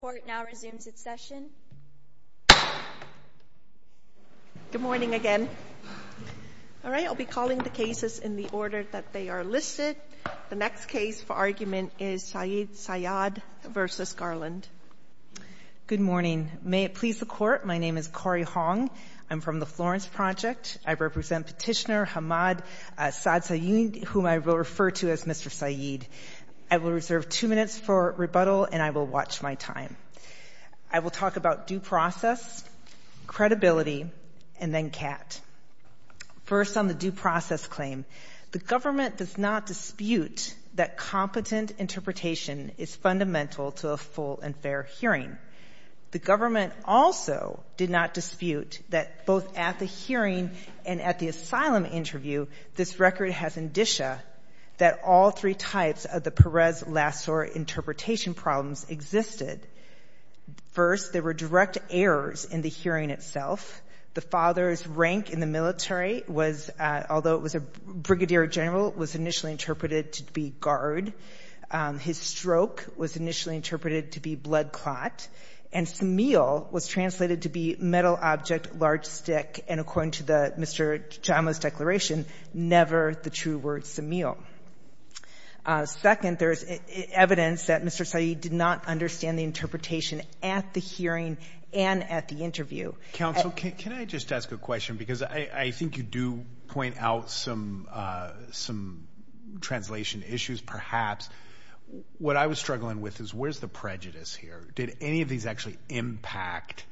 The court now resumes its session. Good morning again. All right, I'll be calling the cases in the order that they are listed. The next case for argument is Saad Sayad v. Garland. Good morning. May it please the court, my name is Cori Hong. I'm from the Florence Project. I represent Petitioner Hamad Saad Sayad, whom I will refer to as Mr. Sayad. I will reserve two minutes for rebuttal and I will watch my time. I will talk about due process, credibility, and then CAT. First on the due process claim, the government does not dispute that competent interpretation is fundamental to a full and fair hearing. The government also did not dispute that both at the hearing and at the asylum interview this record has indicia that all three types of the Perez-Lassor interpretation problems existed. First, there were direct errors in the hearing itself. The father's rank in the military was, although it was a brigadier general, was initially interpreted to be guard. His stroke was initially interpreted to be blood clot. And smile was translated to be metal object, large stick. And according to the Mr. Chamo's declaration, never the true word semil. Second, there's evidence that Mr. Sayad did not understand the interpretation at the hearing and at the interview. Counsel, can I just ask a question? Because I think you do point out some translation issues perhaps. What I was struggling with is where's the prejudice here? Did any of these actually impact?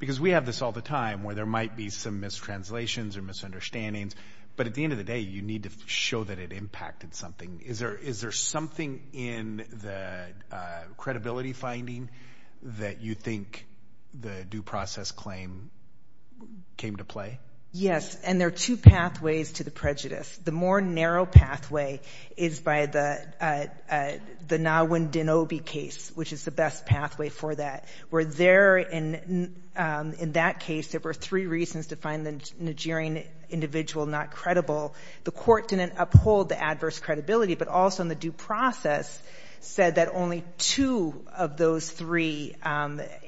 Because we have this all the time where there might be some mistranslations or misunderstandings. But at the end of the day, you need to show that it impacted something. Is there something in the credibility finding that you think the due process claim came to play? Yes. And there are two pathways to the prejudice. The more narrow pathway is by the Nahwin-Dinobi case, which is the best pathway for that. Where there, in that case, there were three reasons to find the Nigerian individual not credible. The court didn't uphold the adverse credibility, but also in the due process said that only two of those three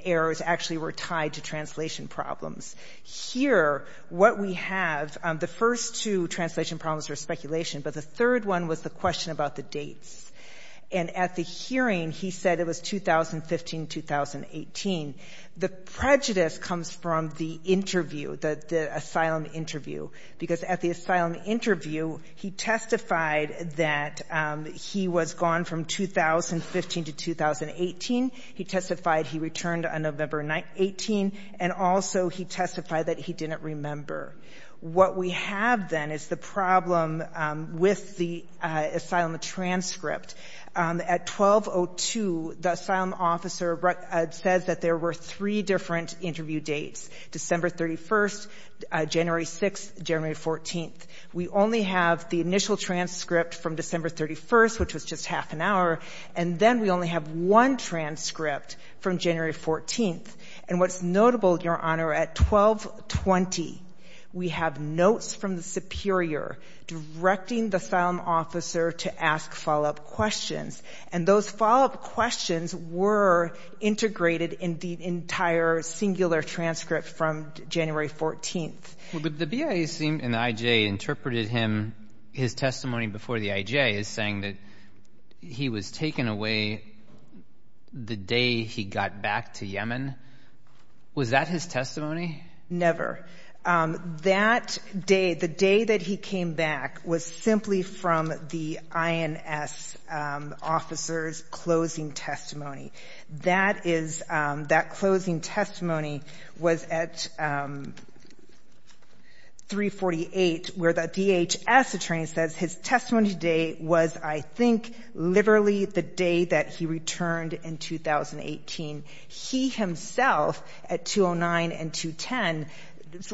errors actually were tied to translation problems. Here, what we have, the first two translation problems are speculation, but the third one was the question about the dates. And at the hearing, he said it was 2015-2018. The prejudice comes from the interview, the asylum interview. Because at the asylum interview, he testified that he was gone from 2015 to 2018. He testified he returned on November 18, and also he testified that he didn't remember. What we have then is the problem with the asylum transcript. At 12.02, the asylum officer says that there were three different interview dates, December 31st, January 6th, January 14th. We only have the initial transcript from December 31st, which was just half an hour, and then we only have one transcript from January 14th. And what's notable, Your Honor, at 12.20, we have notes from the superior directing the asylum officer to ask follow-up questions. And those follow-up questions were integrated in the entire singular transcript from January 14th. Well, but the BIA seemed, and the IJ interpreted him, his testimony before the IJ as saying that he was taken away the day he got back to Yemen. Was that his testimony? Never. That day, the day that he came back, was simply from the INS officer's closing testimony. That is, that closing testimony was at 3.48, where the DHS attorney says his testimony on that day was, I think, literally the day that he returned in 2018. He himself, at 2.09 and 2.10,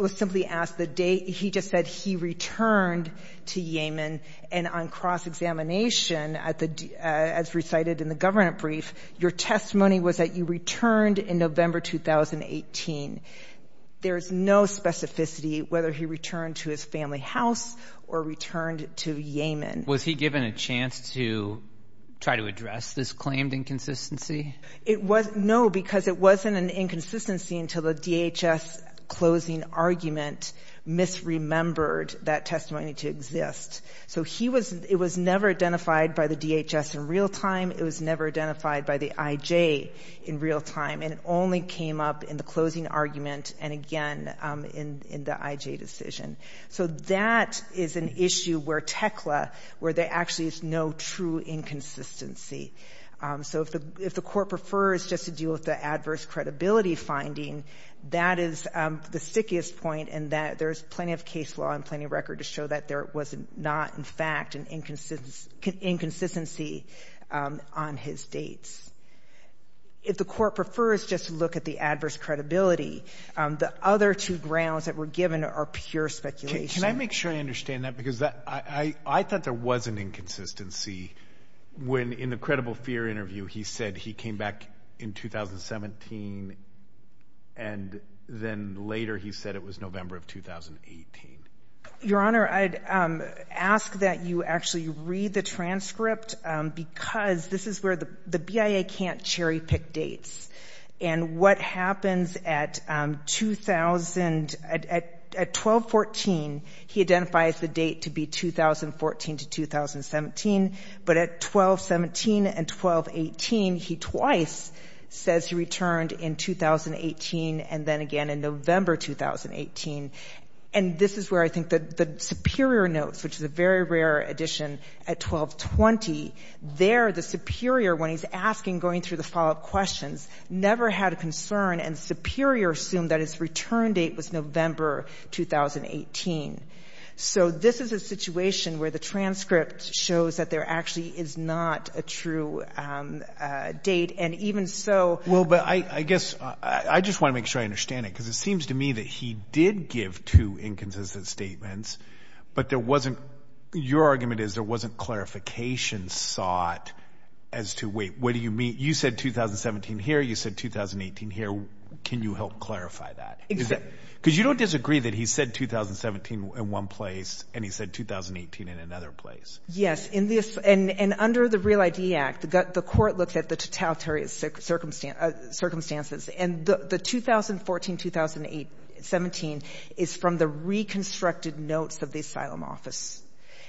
was simply asked the date. He just said he returned to Yemen. And on cross-examination, as recited in the government brief, your testimony was that you returned in November 2018. There is no specificity whether he returned to his family house or returned to Yemen. Was he given a chance to try to address this claimed inconsistency? It was, no, because it wasn't an inconsistency until the DHS closing argument misremembered that testimony to exist. So he was, it was never identified by the DHS in real time, it was never identified by the IJ in real time, and it only came up in the closing argument and, again, in the IJ decision. So that is an issue where TEKLA, where there actually is no true inconsistency. So if the Court prefers just to deal with the adverse credibility finding, that is the stickiest point in that there is plenty of case law and plenty of record to show that there was not, in fact, an inconsistency on his dates. If the Court prefers just to look at the adverse credibility, the other two grounds that were given are pure speculation. Can I make sure I understand that? Because I thought there was an inconsistency when, in the credible fear interview, he said he came back in 2017, and then later he said it was November of 2018. Your Honor, I'd ask that you actually read the transcript because this is where the BIA can't cherry-pick dates. And what happens at 2000, at 12-14, he identifies the date to be 2014 to 2017, but at 12-17 and 12-18, he twice says he returned in 2018 and then again in November 2018. And this is where I think the superior notes, which is a very rare addition, at 12-20, there the superior, when he's asking, going through the follow-up questions, never had a concern, and the superior assumed that his return date was November 2018. So this is a situation where the transcript shows that there actually is not a true date, and even so — Well, but I guess — I just want to make sure I understand it, because it seems to me that he did give two inconsistent statements, but there wasn't — your argument is there wasn't clarification sought as to, wait, what do you mean? You said 2017 here, you said 2018 here. Can you help clarify that? Exactly. Because you don't disagree that he said 2017 in one place and he said 2018 in another place. Yes. In this — and under the REAL ID Act, the court looked at the totalitarian circumstances, and the 2014-2017 is from the reconstructed notes of the asylum office,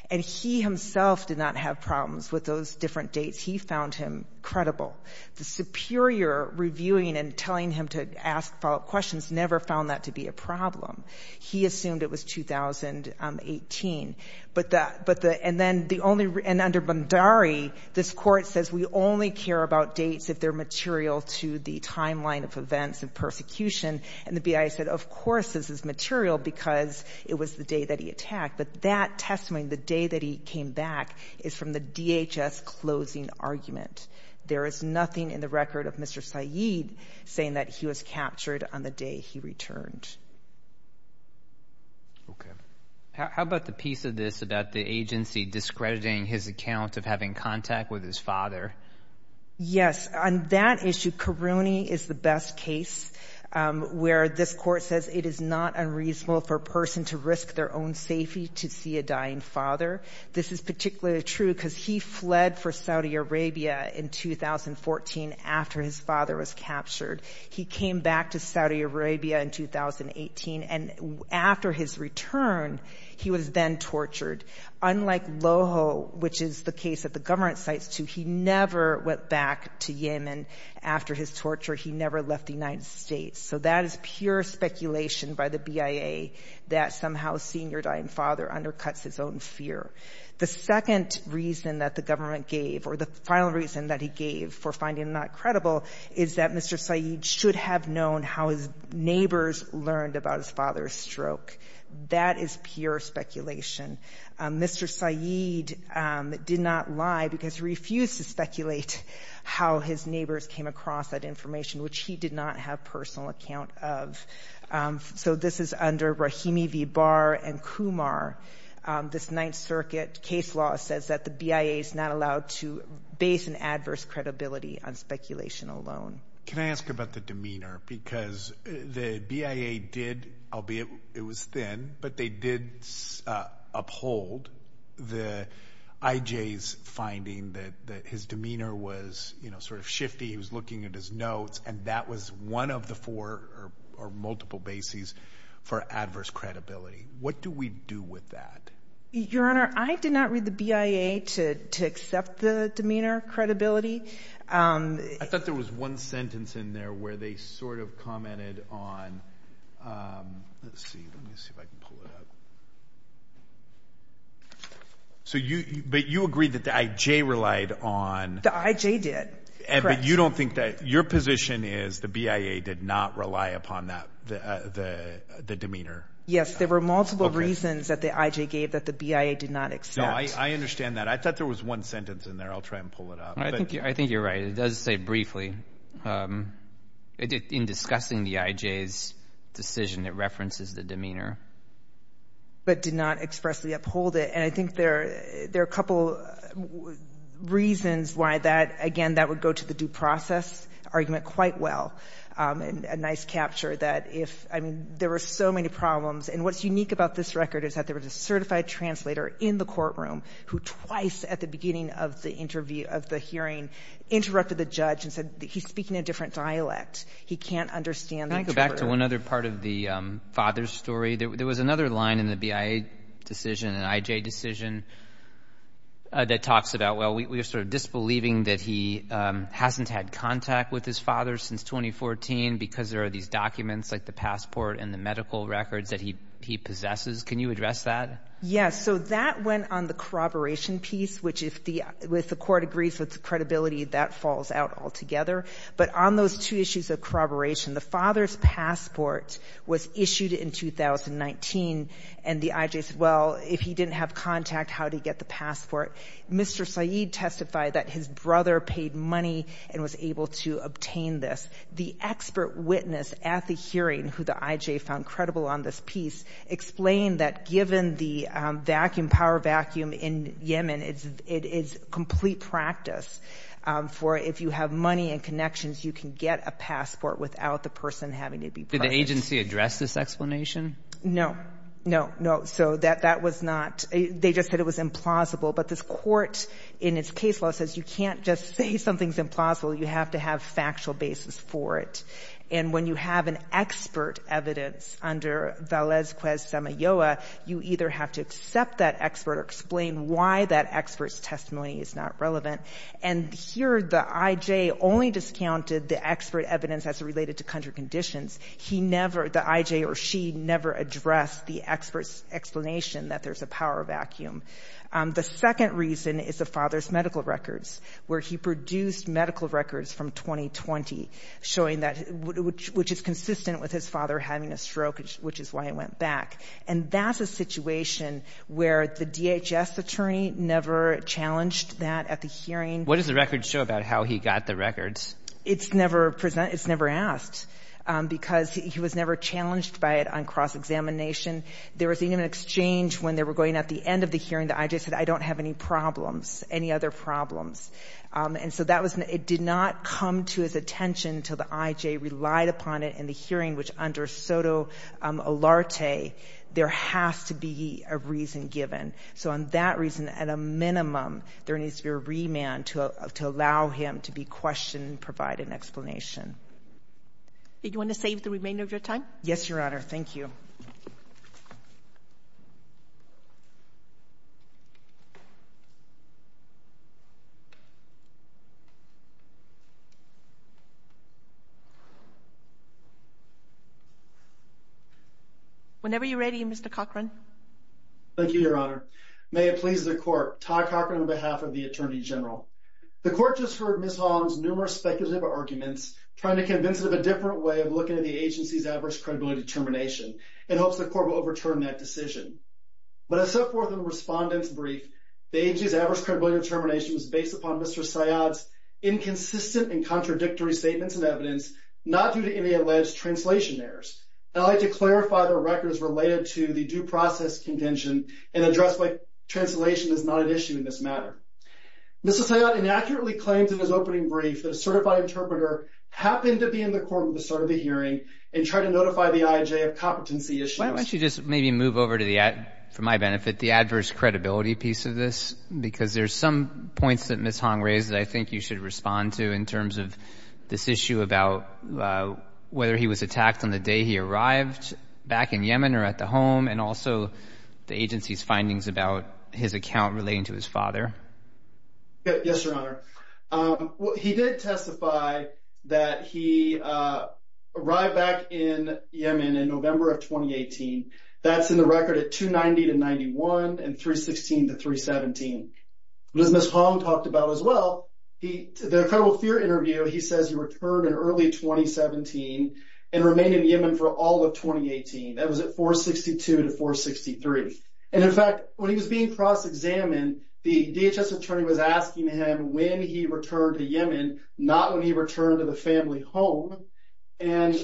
and he himself did not have problems with those different dates. He found him credible. The superior reviewing and telling him to ask follow-up questions never found that to be a problem. He assumed it was 2018. But the — and then the only — and under Bhandari, this court says we only care about to the timeline of events and persecution, and the BIA said, of course, this is material because it was the day that he attacked. But that testimony, the day that he came back, is from the DHS closing argument. There is nothing in the record of Mr. Syed saying that he was captured on the day he returned. Okay. How about the piece of this about the agency discrediting his account of having contact with his father? Yes. On that issue, Karouni is the best case, where this court says it is not unreasonable for a person to risk their own safety to see a dying father. This is particularly true because he fled for Saudi Arabia in 2014 after his father was captured. He came back to Saudi Arabia in 2018, and after his return, he was then tortured. Unlike Loho, which is the case that the government cites, too, he never went back to Yemen after his torture. He never left the United States. So that is pure speculation by the BIA that somehow a senior dying father undercuts his own fear. The second reason that the government gave, or the final reason that he gave for finding him not credible, is that Mr. Syed should have known how his neighbors learned about his father's stroke. That is pure speculation. Mr. Syed did not lie because he refused to speculate how his neighbors came across that information, which he did not have personal account of. So this is under Rahimi v. Barr and Kumar. This Ninth Circuit case law says that the BIA is not allowed to base an adverse credibility on speculation alone. Can I ask about the demeanor? Because the BIA did, albeit it was thin, but they did uphold the IJ's finding that his demeanor was, you know, sort of shifty, he was looking at his notes, and that was one of the four or multiple bases for adverse credibility. What do we do with that? Your Honor, I did not read the BIA to accept the demeanor credibility. I thought there was one sentence in there where they sort of commented on, let's see, let me see if I can pull it up. So you, but you agree that the IJ relied on... The IJ did. Correct. But you don't think that, your position is the BIA did not rely upon that, the demeanor? Yes, there were multiple reasons that the IJ gave that the BIA did not accept. No, I understand that. I thought there was one sentence in there. I'll try and pull it up. I think you're right. It does say briefly, in discussing the IJ's decision, it references the demeanor. But did not expressly uphold it, and I think there are a couple reasons why that, again, that would go to the due process argument quite well, a nice capture that if, I mean, there were so many problems, and what's unique about this record is that there was a certified translator in the courtroom who twice at the beginning of the interview, of the hearing, interrupted the judge and said, he's speaking a different dialect. He can't understand the truth. Can I go back to one other part of the father's story? There was another line in the BIA decision, an IJ decision, that talks about, well, we are sort of disbelieving that he hasn't had contact with his father since 2014 because there are these documents like the passport and the medical records that he possesses. Can you address that? Yes. So that went on the corroboration piece, which if the court agrees with the credibility, that falls out altogether. But on those two issues of corroboration, the father's passport was issued in 2019, and the IJ said, well, if he didn't have contact, how did he get the passport? Mr. Saeed testified that his brother paid money and was able to obtain this. The expert witness at the hearing, who the IJ found credible on this piece, explained that given the vacuum, power vacuum in Yemen, it's complete practice for if you have money and connections, you can get a passport without the person having to be present. Did the agency address this explanation? No. No, no. So that was not, they just said it was implausible. But this court, in its case law, says you can't just say something's implausible. You have to have factual basis for it. And when you have an expert evidence under Valesquez-Samayoa, you either have to accept that expert or explain why that expert's testimony is not relevant. And here, the IJ only discounted the expert evidence as related to country conditions. He never, the IJ or she, never addressed the expert's explanation that there's a power vacuum. The second reason is the father's medical records, where he produced medical records from 2020, showing that, which is consistent with his father having a stroke, which is why he went back. And that's a situation where the DHS attorney never challenged that at the hearing. What does the records show about how he got the records? It's never presented, it's never asked, because he was never challenged by it on cross-examination. There was even an exchange when they were going at the end of the hearing, the IJ said, I don't have any problems, any other problems. And so that was, it did not come to his attention until the IJ relied upon it in the hearing, which under SOTO Olarte, there has to be a reason given. So on that reason, at a minimum, there needs to be a remand to allow him to be questioned and provide an explanation. Did you want to save the remainder of your time? Yes, Your Honor. Thank you. Whenever you're ready, Mr. Cochran. Thank you, Your Honor. May it please the Court, Todd Cochran on behalf of the Attorney General. The Court just heard Ms. Holland's numerous speculative arguments, trying to convince that there's a different way of looking at the agency's adverse credibility determination, in hopes the Court will overturn that decision. But as set forth in the Respondent's brief, the agency's adverse credibility determination was based upon Mr. Syed's inconsistent and contradictory statements and evidence, not due to any alleged translation errors. I'd like to clarify the records related to the due process contention and address why translation is not an issue in this matter. Mr. Syed inaccurately claimed in his opening brief that a certified interpreter happened to be in the courtroom at the start of the hearing and tried to notify the IAJ of competency issues. Why don't you just maybe move over to the, for my benefit, the adverse credibility piece of this, because there's some points that Ms. Hong raised that I think you should respond to in terms of this issue about whether he was attacked on the day he arrived back in Yemen or at the home, and also the agency's findings about his account relating to his father. Yes, Your Honor. Well, he did testify that he arrived back in Yemen in November of 2018. That's in the record at 290 to 91, and 316 to 317. As Ms. Hong talked about as well, the incredible fear interview, he says he returned in early 2017 and remained in Yemen for all of 2018. That was at 462 to 463, and in fact, when he was being cross-examined, the DHS attorney was asking him when he returned to Yemen, not when he returned to the family home, and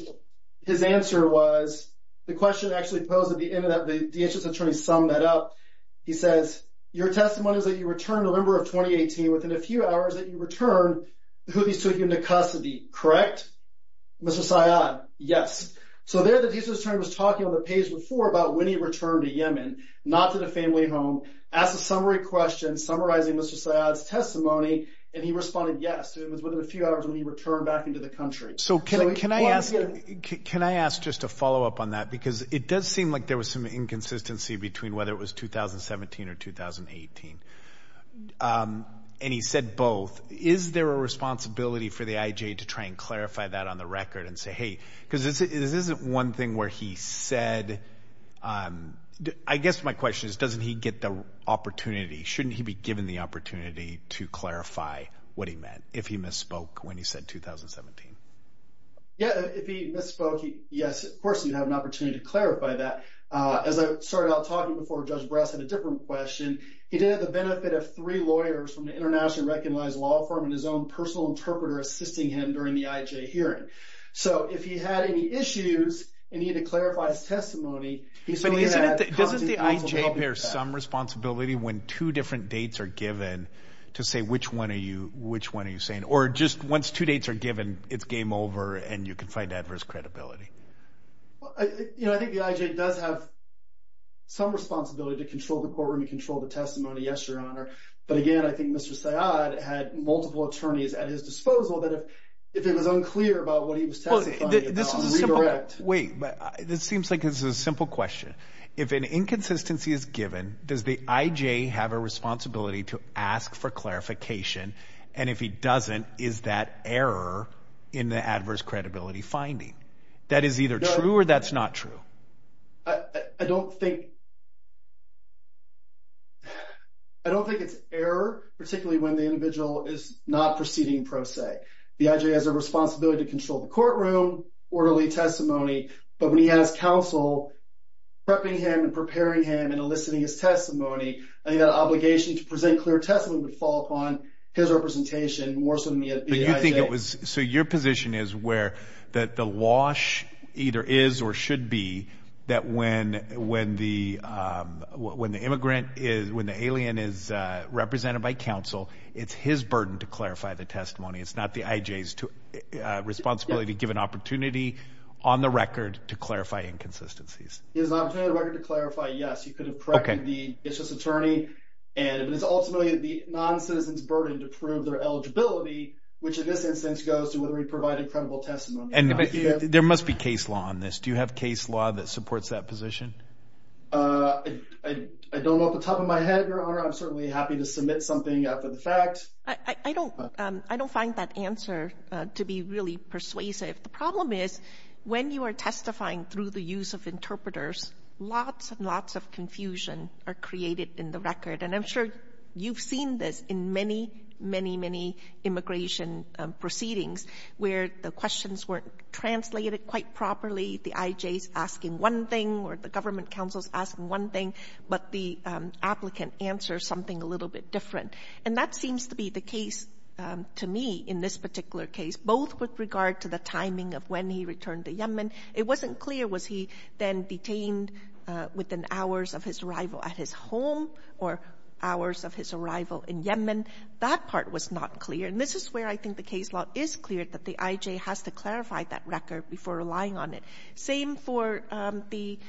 his answer was, the question actually posed at the end of that, the DHS attorney summed that up. He says, your testimony is that you returned in November of 2018, within a few hours that you returned, Houthis took you into custody, correct, Mr. Syed? Yes. So there the DHS attorney was talking on the page before about when he returned to Yemen, not to the family home, asked a summary question, summarizing Mr. Syed's testimony, and he responded yes, it was within a few hours when he returned back into the country. So can I ask just a follow-up on that, because it does seem like there was some inconsistency between whether it was 2017 or 2018, and he said both. Is there a responsibility for the IJ to try and clarify that on the record and say, hey, because this isn't one thing where he said, I guess my question is, doesn't he get the opportunity, shouldn't he be given the opportunity to clarify what he meant, if he misspoke when he said 2017? Yeah, if he misspoke, yes, of course he'd have an opportunity to clarify that. As I started out talking before, Judge Brass had a different question. He did it at the benefit of three lawyers from the internationally recognized law firm and his own personal interpreter assisting him during the IJ hearing. So if he had any issues, and he had to clarify his testimony, he's only going to have constant responsibility for that. Doesn't the IJ bear some responsibility when two different dates are given to say which one are you saying? Or just once two dates are given, it's game over, and you can find adverse credibility? I think the IJ does have some responsibility to control the courtroom, to control the testimony, yes, Your Honor. But again, I think Mr. Syed had multiple attorneys at his disposal that if it was unclear about what he was testifying about, redirect. Wait, this seems like this is a simple question. If an inconsistency is given, does the IJ have a responsibility to ask for clarification? And if he doesn't, is that error in the adverse credibility finding? That is either true or that's not true. I don't think it's error, particularly when the individual is not proceeding pro se. The IJ has a responsibility to control the courtroom, orderly testimony, but when he has counsel prepping him and preparing him and enlisting his testimony, I think that obligation to present clear testimony would fall upon his representation more so than the IJ. But you think it was, so your position is where that the wash either is or should be that when the immigrant is, when the alien is represented by counsel, it's his burden to clarify the testimony. It's not the IJ's responsibility to give an opportunity on the record to clarify inconsistencies. He has an opportunity on the record to clarify, yes, he could have prepped the business attorney and it's ultimately the non-citizen's burden to prove their eligibility, which in this instance goes to whether he provided credible testimony. There must be case law on this. Do you have case law that supports that position? I don't know off the top of my head, Your Honor. I'm certainly happy to submit something after the fact. I don't, I don't find that answer to be really persuasive. The problem is when you are testifying through the use of interpreters, lots and lots of confusion are created in the record. And I'm sure you've seen this in many, many, many immigration proceedings where the questions weren't translated quite properly. The IJ's asking one thing or the government counsel's asking one thing, but the applicant answers something a little bit different. And that seems to be the case to me in this particular case, both with regard to the timing of when he returned to Yemen. It wasn't clear was he then detained within hours of his arrival at his home or hours of his arrival in Yemen. That part was not clear. And this is where I think the case law is clear that the IJ has to clarify that record before relying on it. Same for the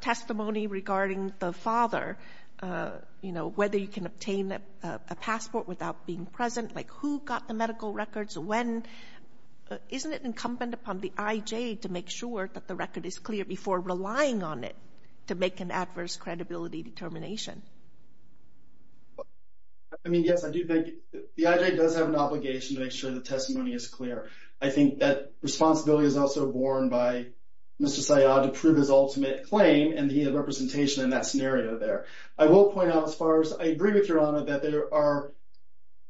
testimony regarding the father, you know, whether you can obtain a passport without being present, like who got the medical records, when, isn't it incumbent upon the IJ to make sure that the record is clear before relying on it to make an adverse credibility determination? I mean, yes, I do think the IJ does have an obligation to make sure the testimony is clear. I think that responsibility is also borne by Mr. Syed to prove his ultimate claim and he had representation in that scenario there. I will point out as far as I agree with Your Honor that there are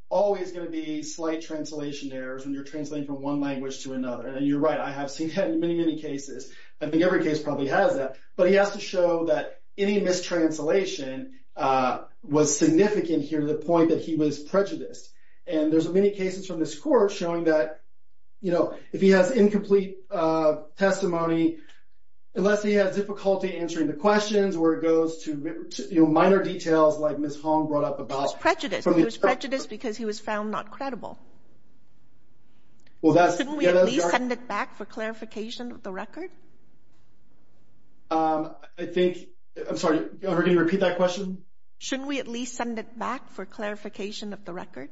always going to be slight translation errors when you're translating from one language to another. And you're right. I have seen that in many, many cases. I think every case probably has that, but he has to show that any mistranslation was significant here to the point that he was prejudiced. And there's many cases from this court showing that, you know, if he has incomplete testimony, unless he has difficulty answering the questions where it goes to minor details like Ms. Hong brought up about... It was prejudiced. It was prejudiced because he was found not credible. Well, that's... Shouldn't we at least send it back for clarification of the record? I think... I'm sorry. Are we going to repeat that question? Shouldn't we at least send it back for clarification of the record?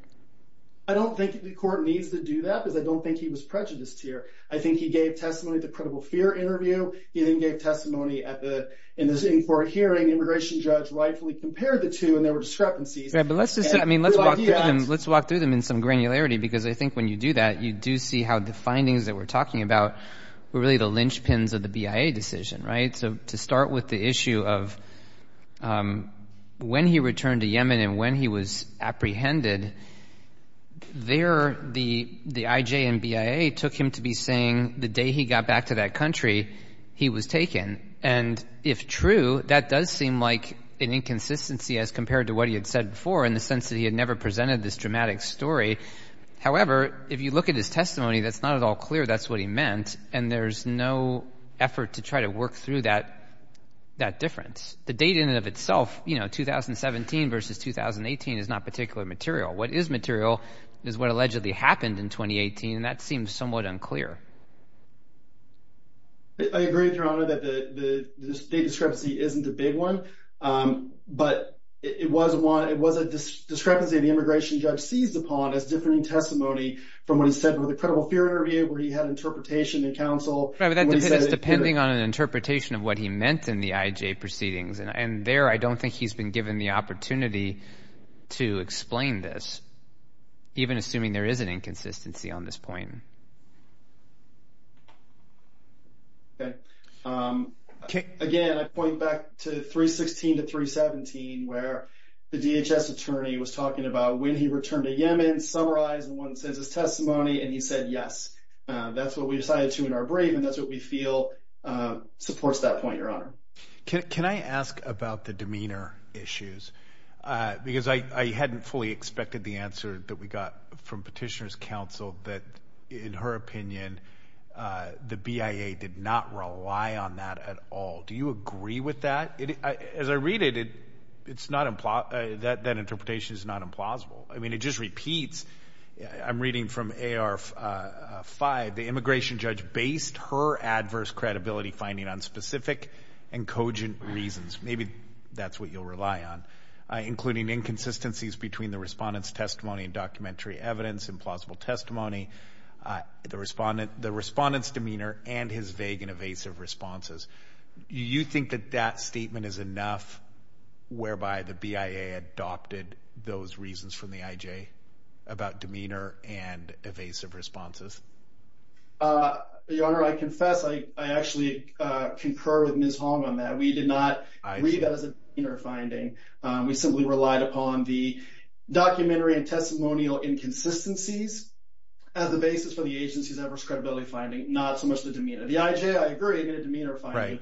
I don't think the court needs to do that because I don't think he was prejudiced here. I think he gave testimony at the credible fear interview. He then gave testimony at the... In the sitting court hearing, the immigration judge rightfully compared the two and there were discrepancies. Yeah, but let's just... I mean, let's walk through them in some granularity because I think when you do that, you do see how the findings that we're talking about were really the linchpins of the BIA decision, right? To start with the issue of when he returned to Yemen and when he was apprehended, there the IJ and BIA took him to be saying the day he got back to that country, he was taken. And if true, that does seem like an inconsistency as compared to what he had said before in the sense that he had never presented this dramatic story. However, if you look at his testimony, that's not at all clear that's what he meant. And there's no effort to try to work through that difference. The date in and of itself, you know, 2017 versus 2018 is not particular material. What is material is what allegedly happened in 2018 and that seems somewhat unclear. I agree, Your Honor, that the state discrepancy isn't a big one. But it was a discrepancy of the immigration judge seized upon as differing testimony from what he said with the credible fear interview where he had interpretation in counsel. Right, but that's depending on an interpretation of what he meant in the IJ proceedings. And there, I don't think he's been given the opportunity to explain this, even assuming there is an inconsistency on this point. Okay. Again, I point back to 316 to 317 where the DHS attorney was talking about when he returned to Yemen, summarize and one says his testimony and he said, yes, that's what we decided to in our brain. And that's what we feel supports that point, Your Honor. Can I ask about the demeanor issues? Because I hadn't fully expected the answer that we got from petitioner's counsel that in her opinion, the BIA did not rely on that at all. Do you agree with that? As I read it, it's not implied that that interpretation is not implausible. I mean, it just repeats, I'm reading from AR5, the immigration judge based her adverse credibility finding on specific and cogent reasons. Maybe that's what you'll rely on, including inconsistencies between the respondent's testimony and documentary evidence, implausible testimony, the respondent's demeanor and his vague and evasive responses. You think that that statement is enough whereby the BIA adopted those reasons from the IJ about demeanor and evasive responses? Your Honor, I confess, I actually concur with Ms. Hong on that. We did not read that as a demeanor finding. We simply relied upon the documentary and testimonial inconsistencies as the basis for the agency's adverse credibility finding, not so much the demeanor. The IJ, I agree, made a demeanor finding.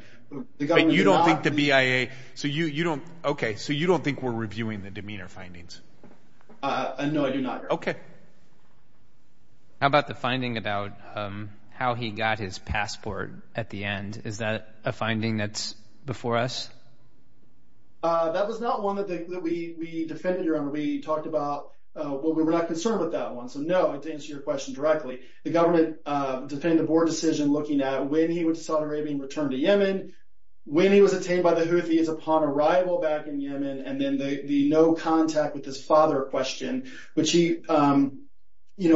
You don't think the BIA, so you don't, okay, so you don't think we're reviewing the demeanor findings? No, I do not, Your Honor. Okay. How about the finding about how he got his passport at the end? Is that a finding that's before us? That was not one that we defended, Your Honor. We talked about, well, we were not concerned with that one, so no, to answer your question directly, the government, depending on the board decision, looking at when he went to Saudi Arabia and returned to Yemen, when he was obtained by the Houthis upon arrival back in Yemen, and then the no contact with his father question, which he, I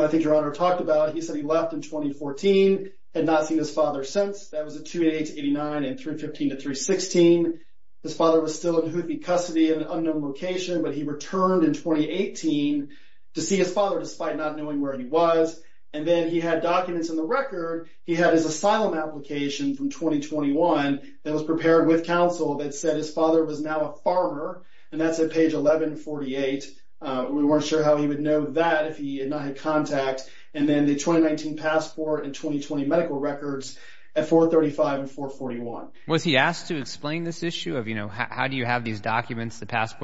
think Your Honor talked about. He said he left in 2014, had not seen his father since, that was a 2-8-8-9 and 3-15-3-16. His father was still in Houthi custody in an unknown location, but he returned in 2018 to see his father, despite not knowing where he was, and then he had documents in the record. He had his asylum application from 2021 that was prepared with counsel that said his father was now a farmer, and that's at page 1148. We weren't sure how he would know that if he had not had contact, and then the 2019 passport and 2020 medical records at 435 and 441. Was he asked to explain this issue of, you know, how do you have these documents, the contact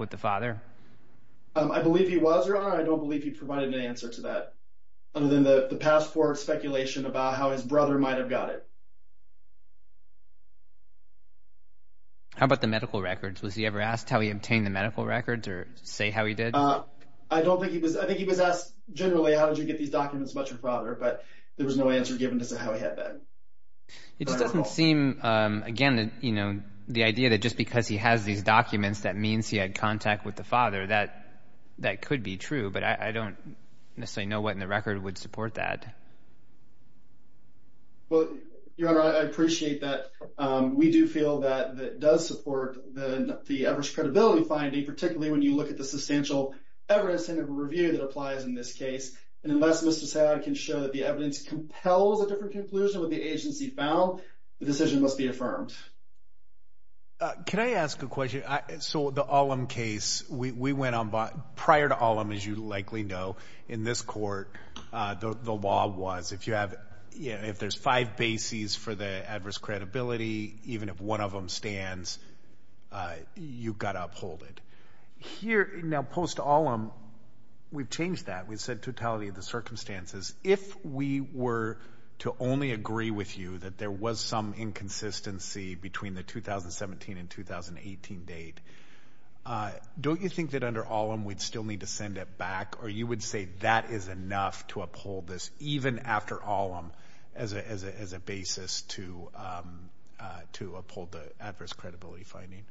with the father? I believe he was, Your Honor. I don't believe he provided an answer to that other than the passport speculation about how his brother might have got it. How about the medical records? Was he ever asked how he obtained the medical records or say how he did? I don't think he was. I think he was asked generally, how did you get these documents about your father? But there was no answer given as to how he had that. It just doesn't seem, again, you know, the idea that just because he has these documents that means he had contact with the father, that could be true. But I don't necessarily know what in the record would support that. Well, Your Honor, I appreciate that. We do feel that that does support the average credibility finding, particularly when you look at the substantial evidence in a review that applies in this case. And unless Mr. Saad can show that the evidence compels a different conclusion with the agency found, the decision must be affirmed. Can I ask a question? So the Ollam case, we went on, prior to Ollam, as you likely know, in this court, the law was if you have, you know, if there's five bases for the adverse credibility, even if one of them stands, you've got to uphold it. Here, now post-Ollam, we've changed that. We've said totality of the circumstances. If we were to only agree with you that there was some inconsistency between the 2017 and the 2018 date, don't you think that under Ollam, we'd still need to send it back? Or you would say that is enough to uphold this, even after Ollam, as a basis to uphold the adverse credibility finding?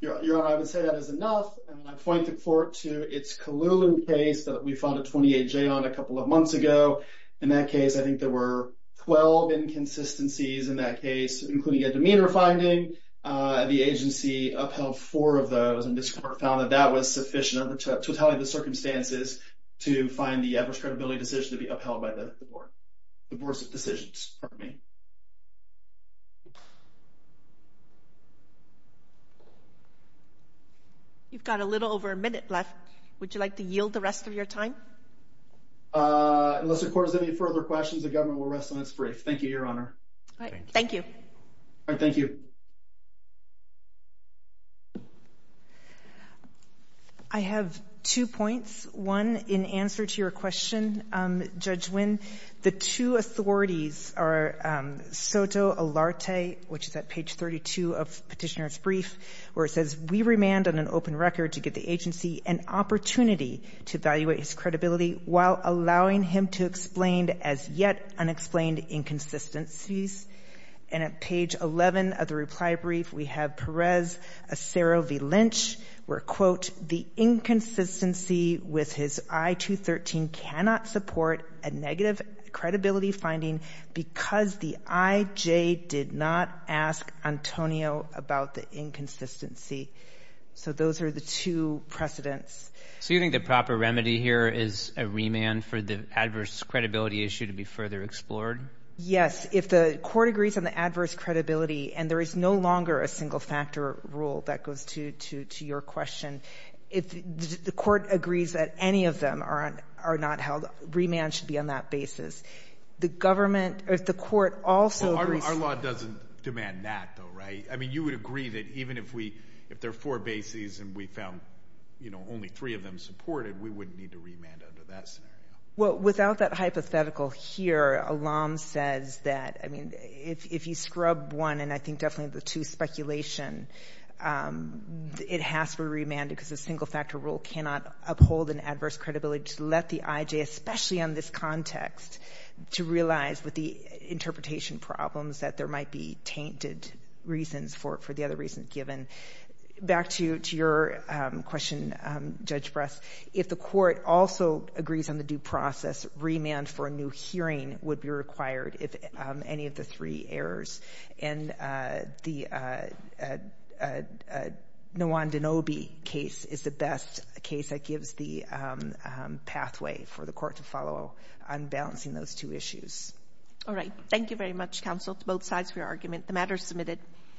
Your Honor, I would say that is enough. And I point the court to its Kahloulen case that we fought a 28-J on a couple of months ago. In that case, I think there were 12 inconsistencies in that case, including a demeanor finding, and the agency upheld four of those. And this court found that that was sufficient under the totality of the circumstances to find the adverse credibility decision to be upheld by the board. The board's decisions, pardon me. You've got a little over a minute left. Would you like to yield the rest of your time? Unless the court has any further questions, the government will rest on its brief. Thank you, Your Honor. All right, thank you. All right, thank you. Thank you. I have two points. One, in answer to your question, Judge Wynn, the two authorities are Soto Olarte, which is at page 32 of Petitioner's brief, where it says, we remand on an open record to give the agency an opportunity to evaluate his credibility while allowing him to explain as yet unexplained inconsistencies. And at page 11 of the reply brief, we have Perez Acero v. Lynch, where, quote, the inconsistency with his I-213 cannot support a negative credibility finding because the IJ did not ask Antonio about the inconsistency. So those are the two precedents. So you think the proper remedy here is a remand for the adverse credibility issue to be further explored? Yes. If the court agrees on the adverse credibility, and there is no longer a single factor rule, that goes to your question. If the court agrees that any of them are not held, remand should be on that basis. The government or the court also agrees— Our law doesn't demand that, though, right? I mean, you would agree that even if we—if there are four bases and we found, you know, only three of them supported, we wouldn't need to remand under that scenario. Well, without that hypothetical here, Alam says that, I mean, if you scrub one and I think definitely the two, speculation, it has to be remanded because a single factor rule cannot uphold an adverse credibility to let the IJ, especially on this context, to realize with the interpretation problems that there might be tainted reasons for the other reasons given. Back to your question, Judge Bress. If the court also agrees on the due process, remand for a new hearing would be required if any of the three errors. And the Nawan-Dinobi case is the best case that gives the pathway for the court to follow on balancing those two issues. All right. Thank you very much, counsel, to both sides of your argument. The matter is submitted.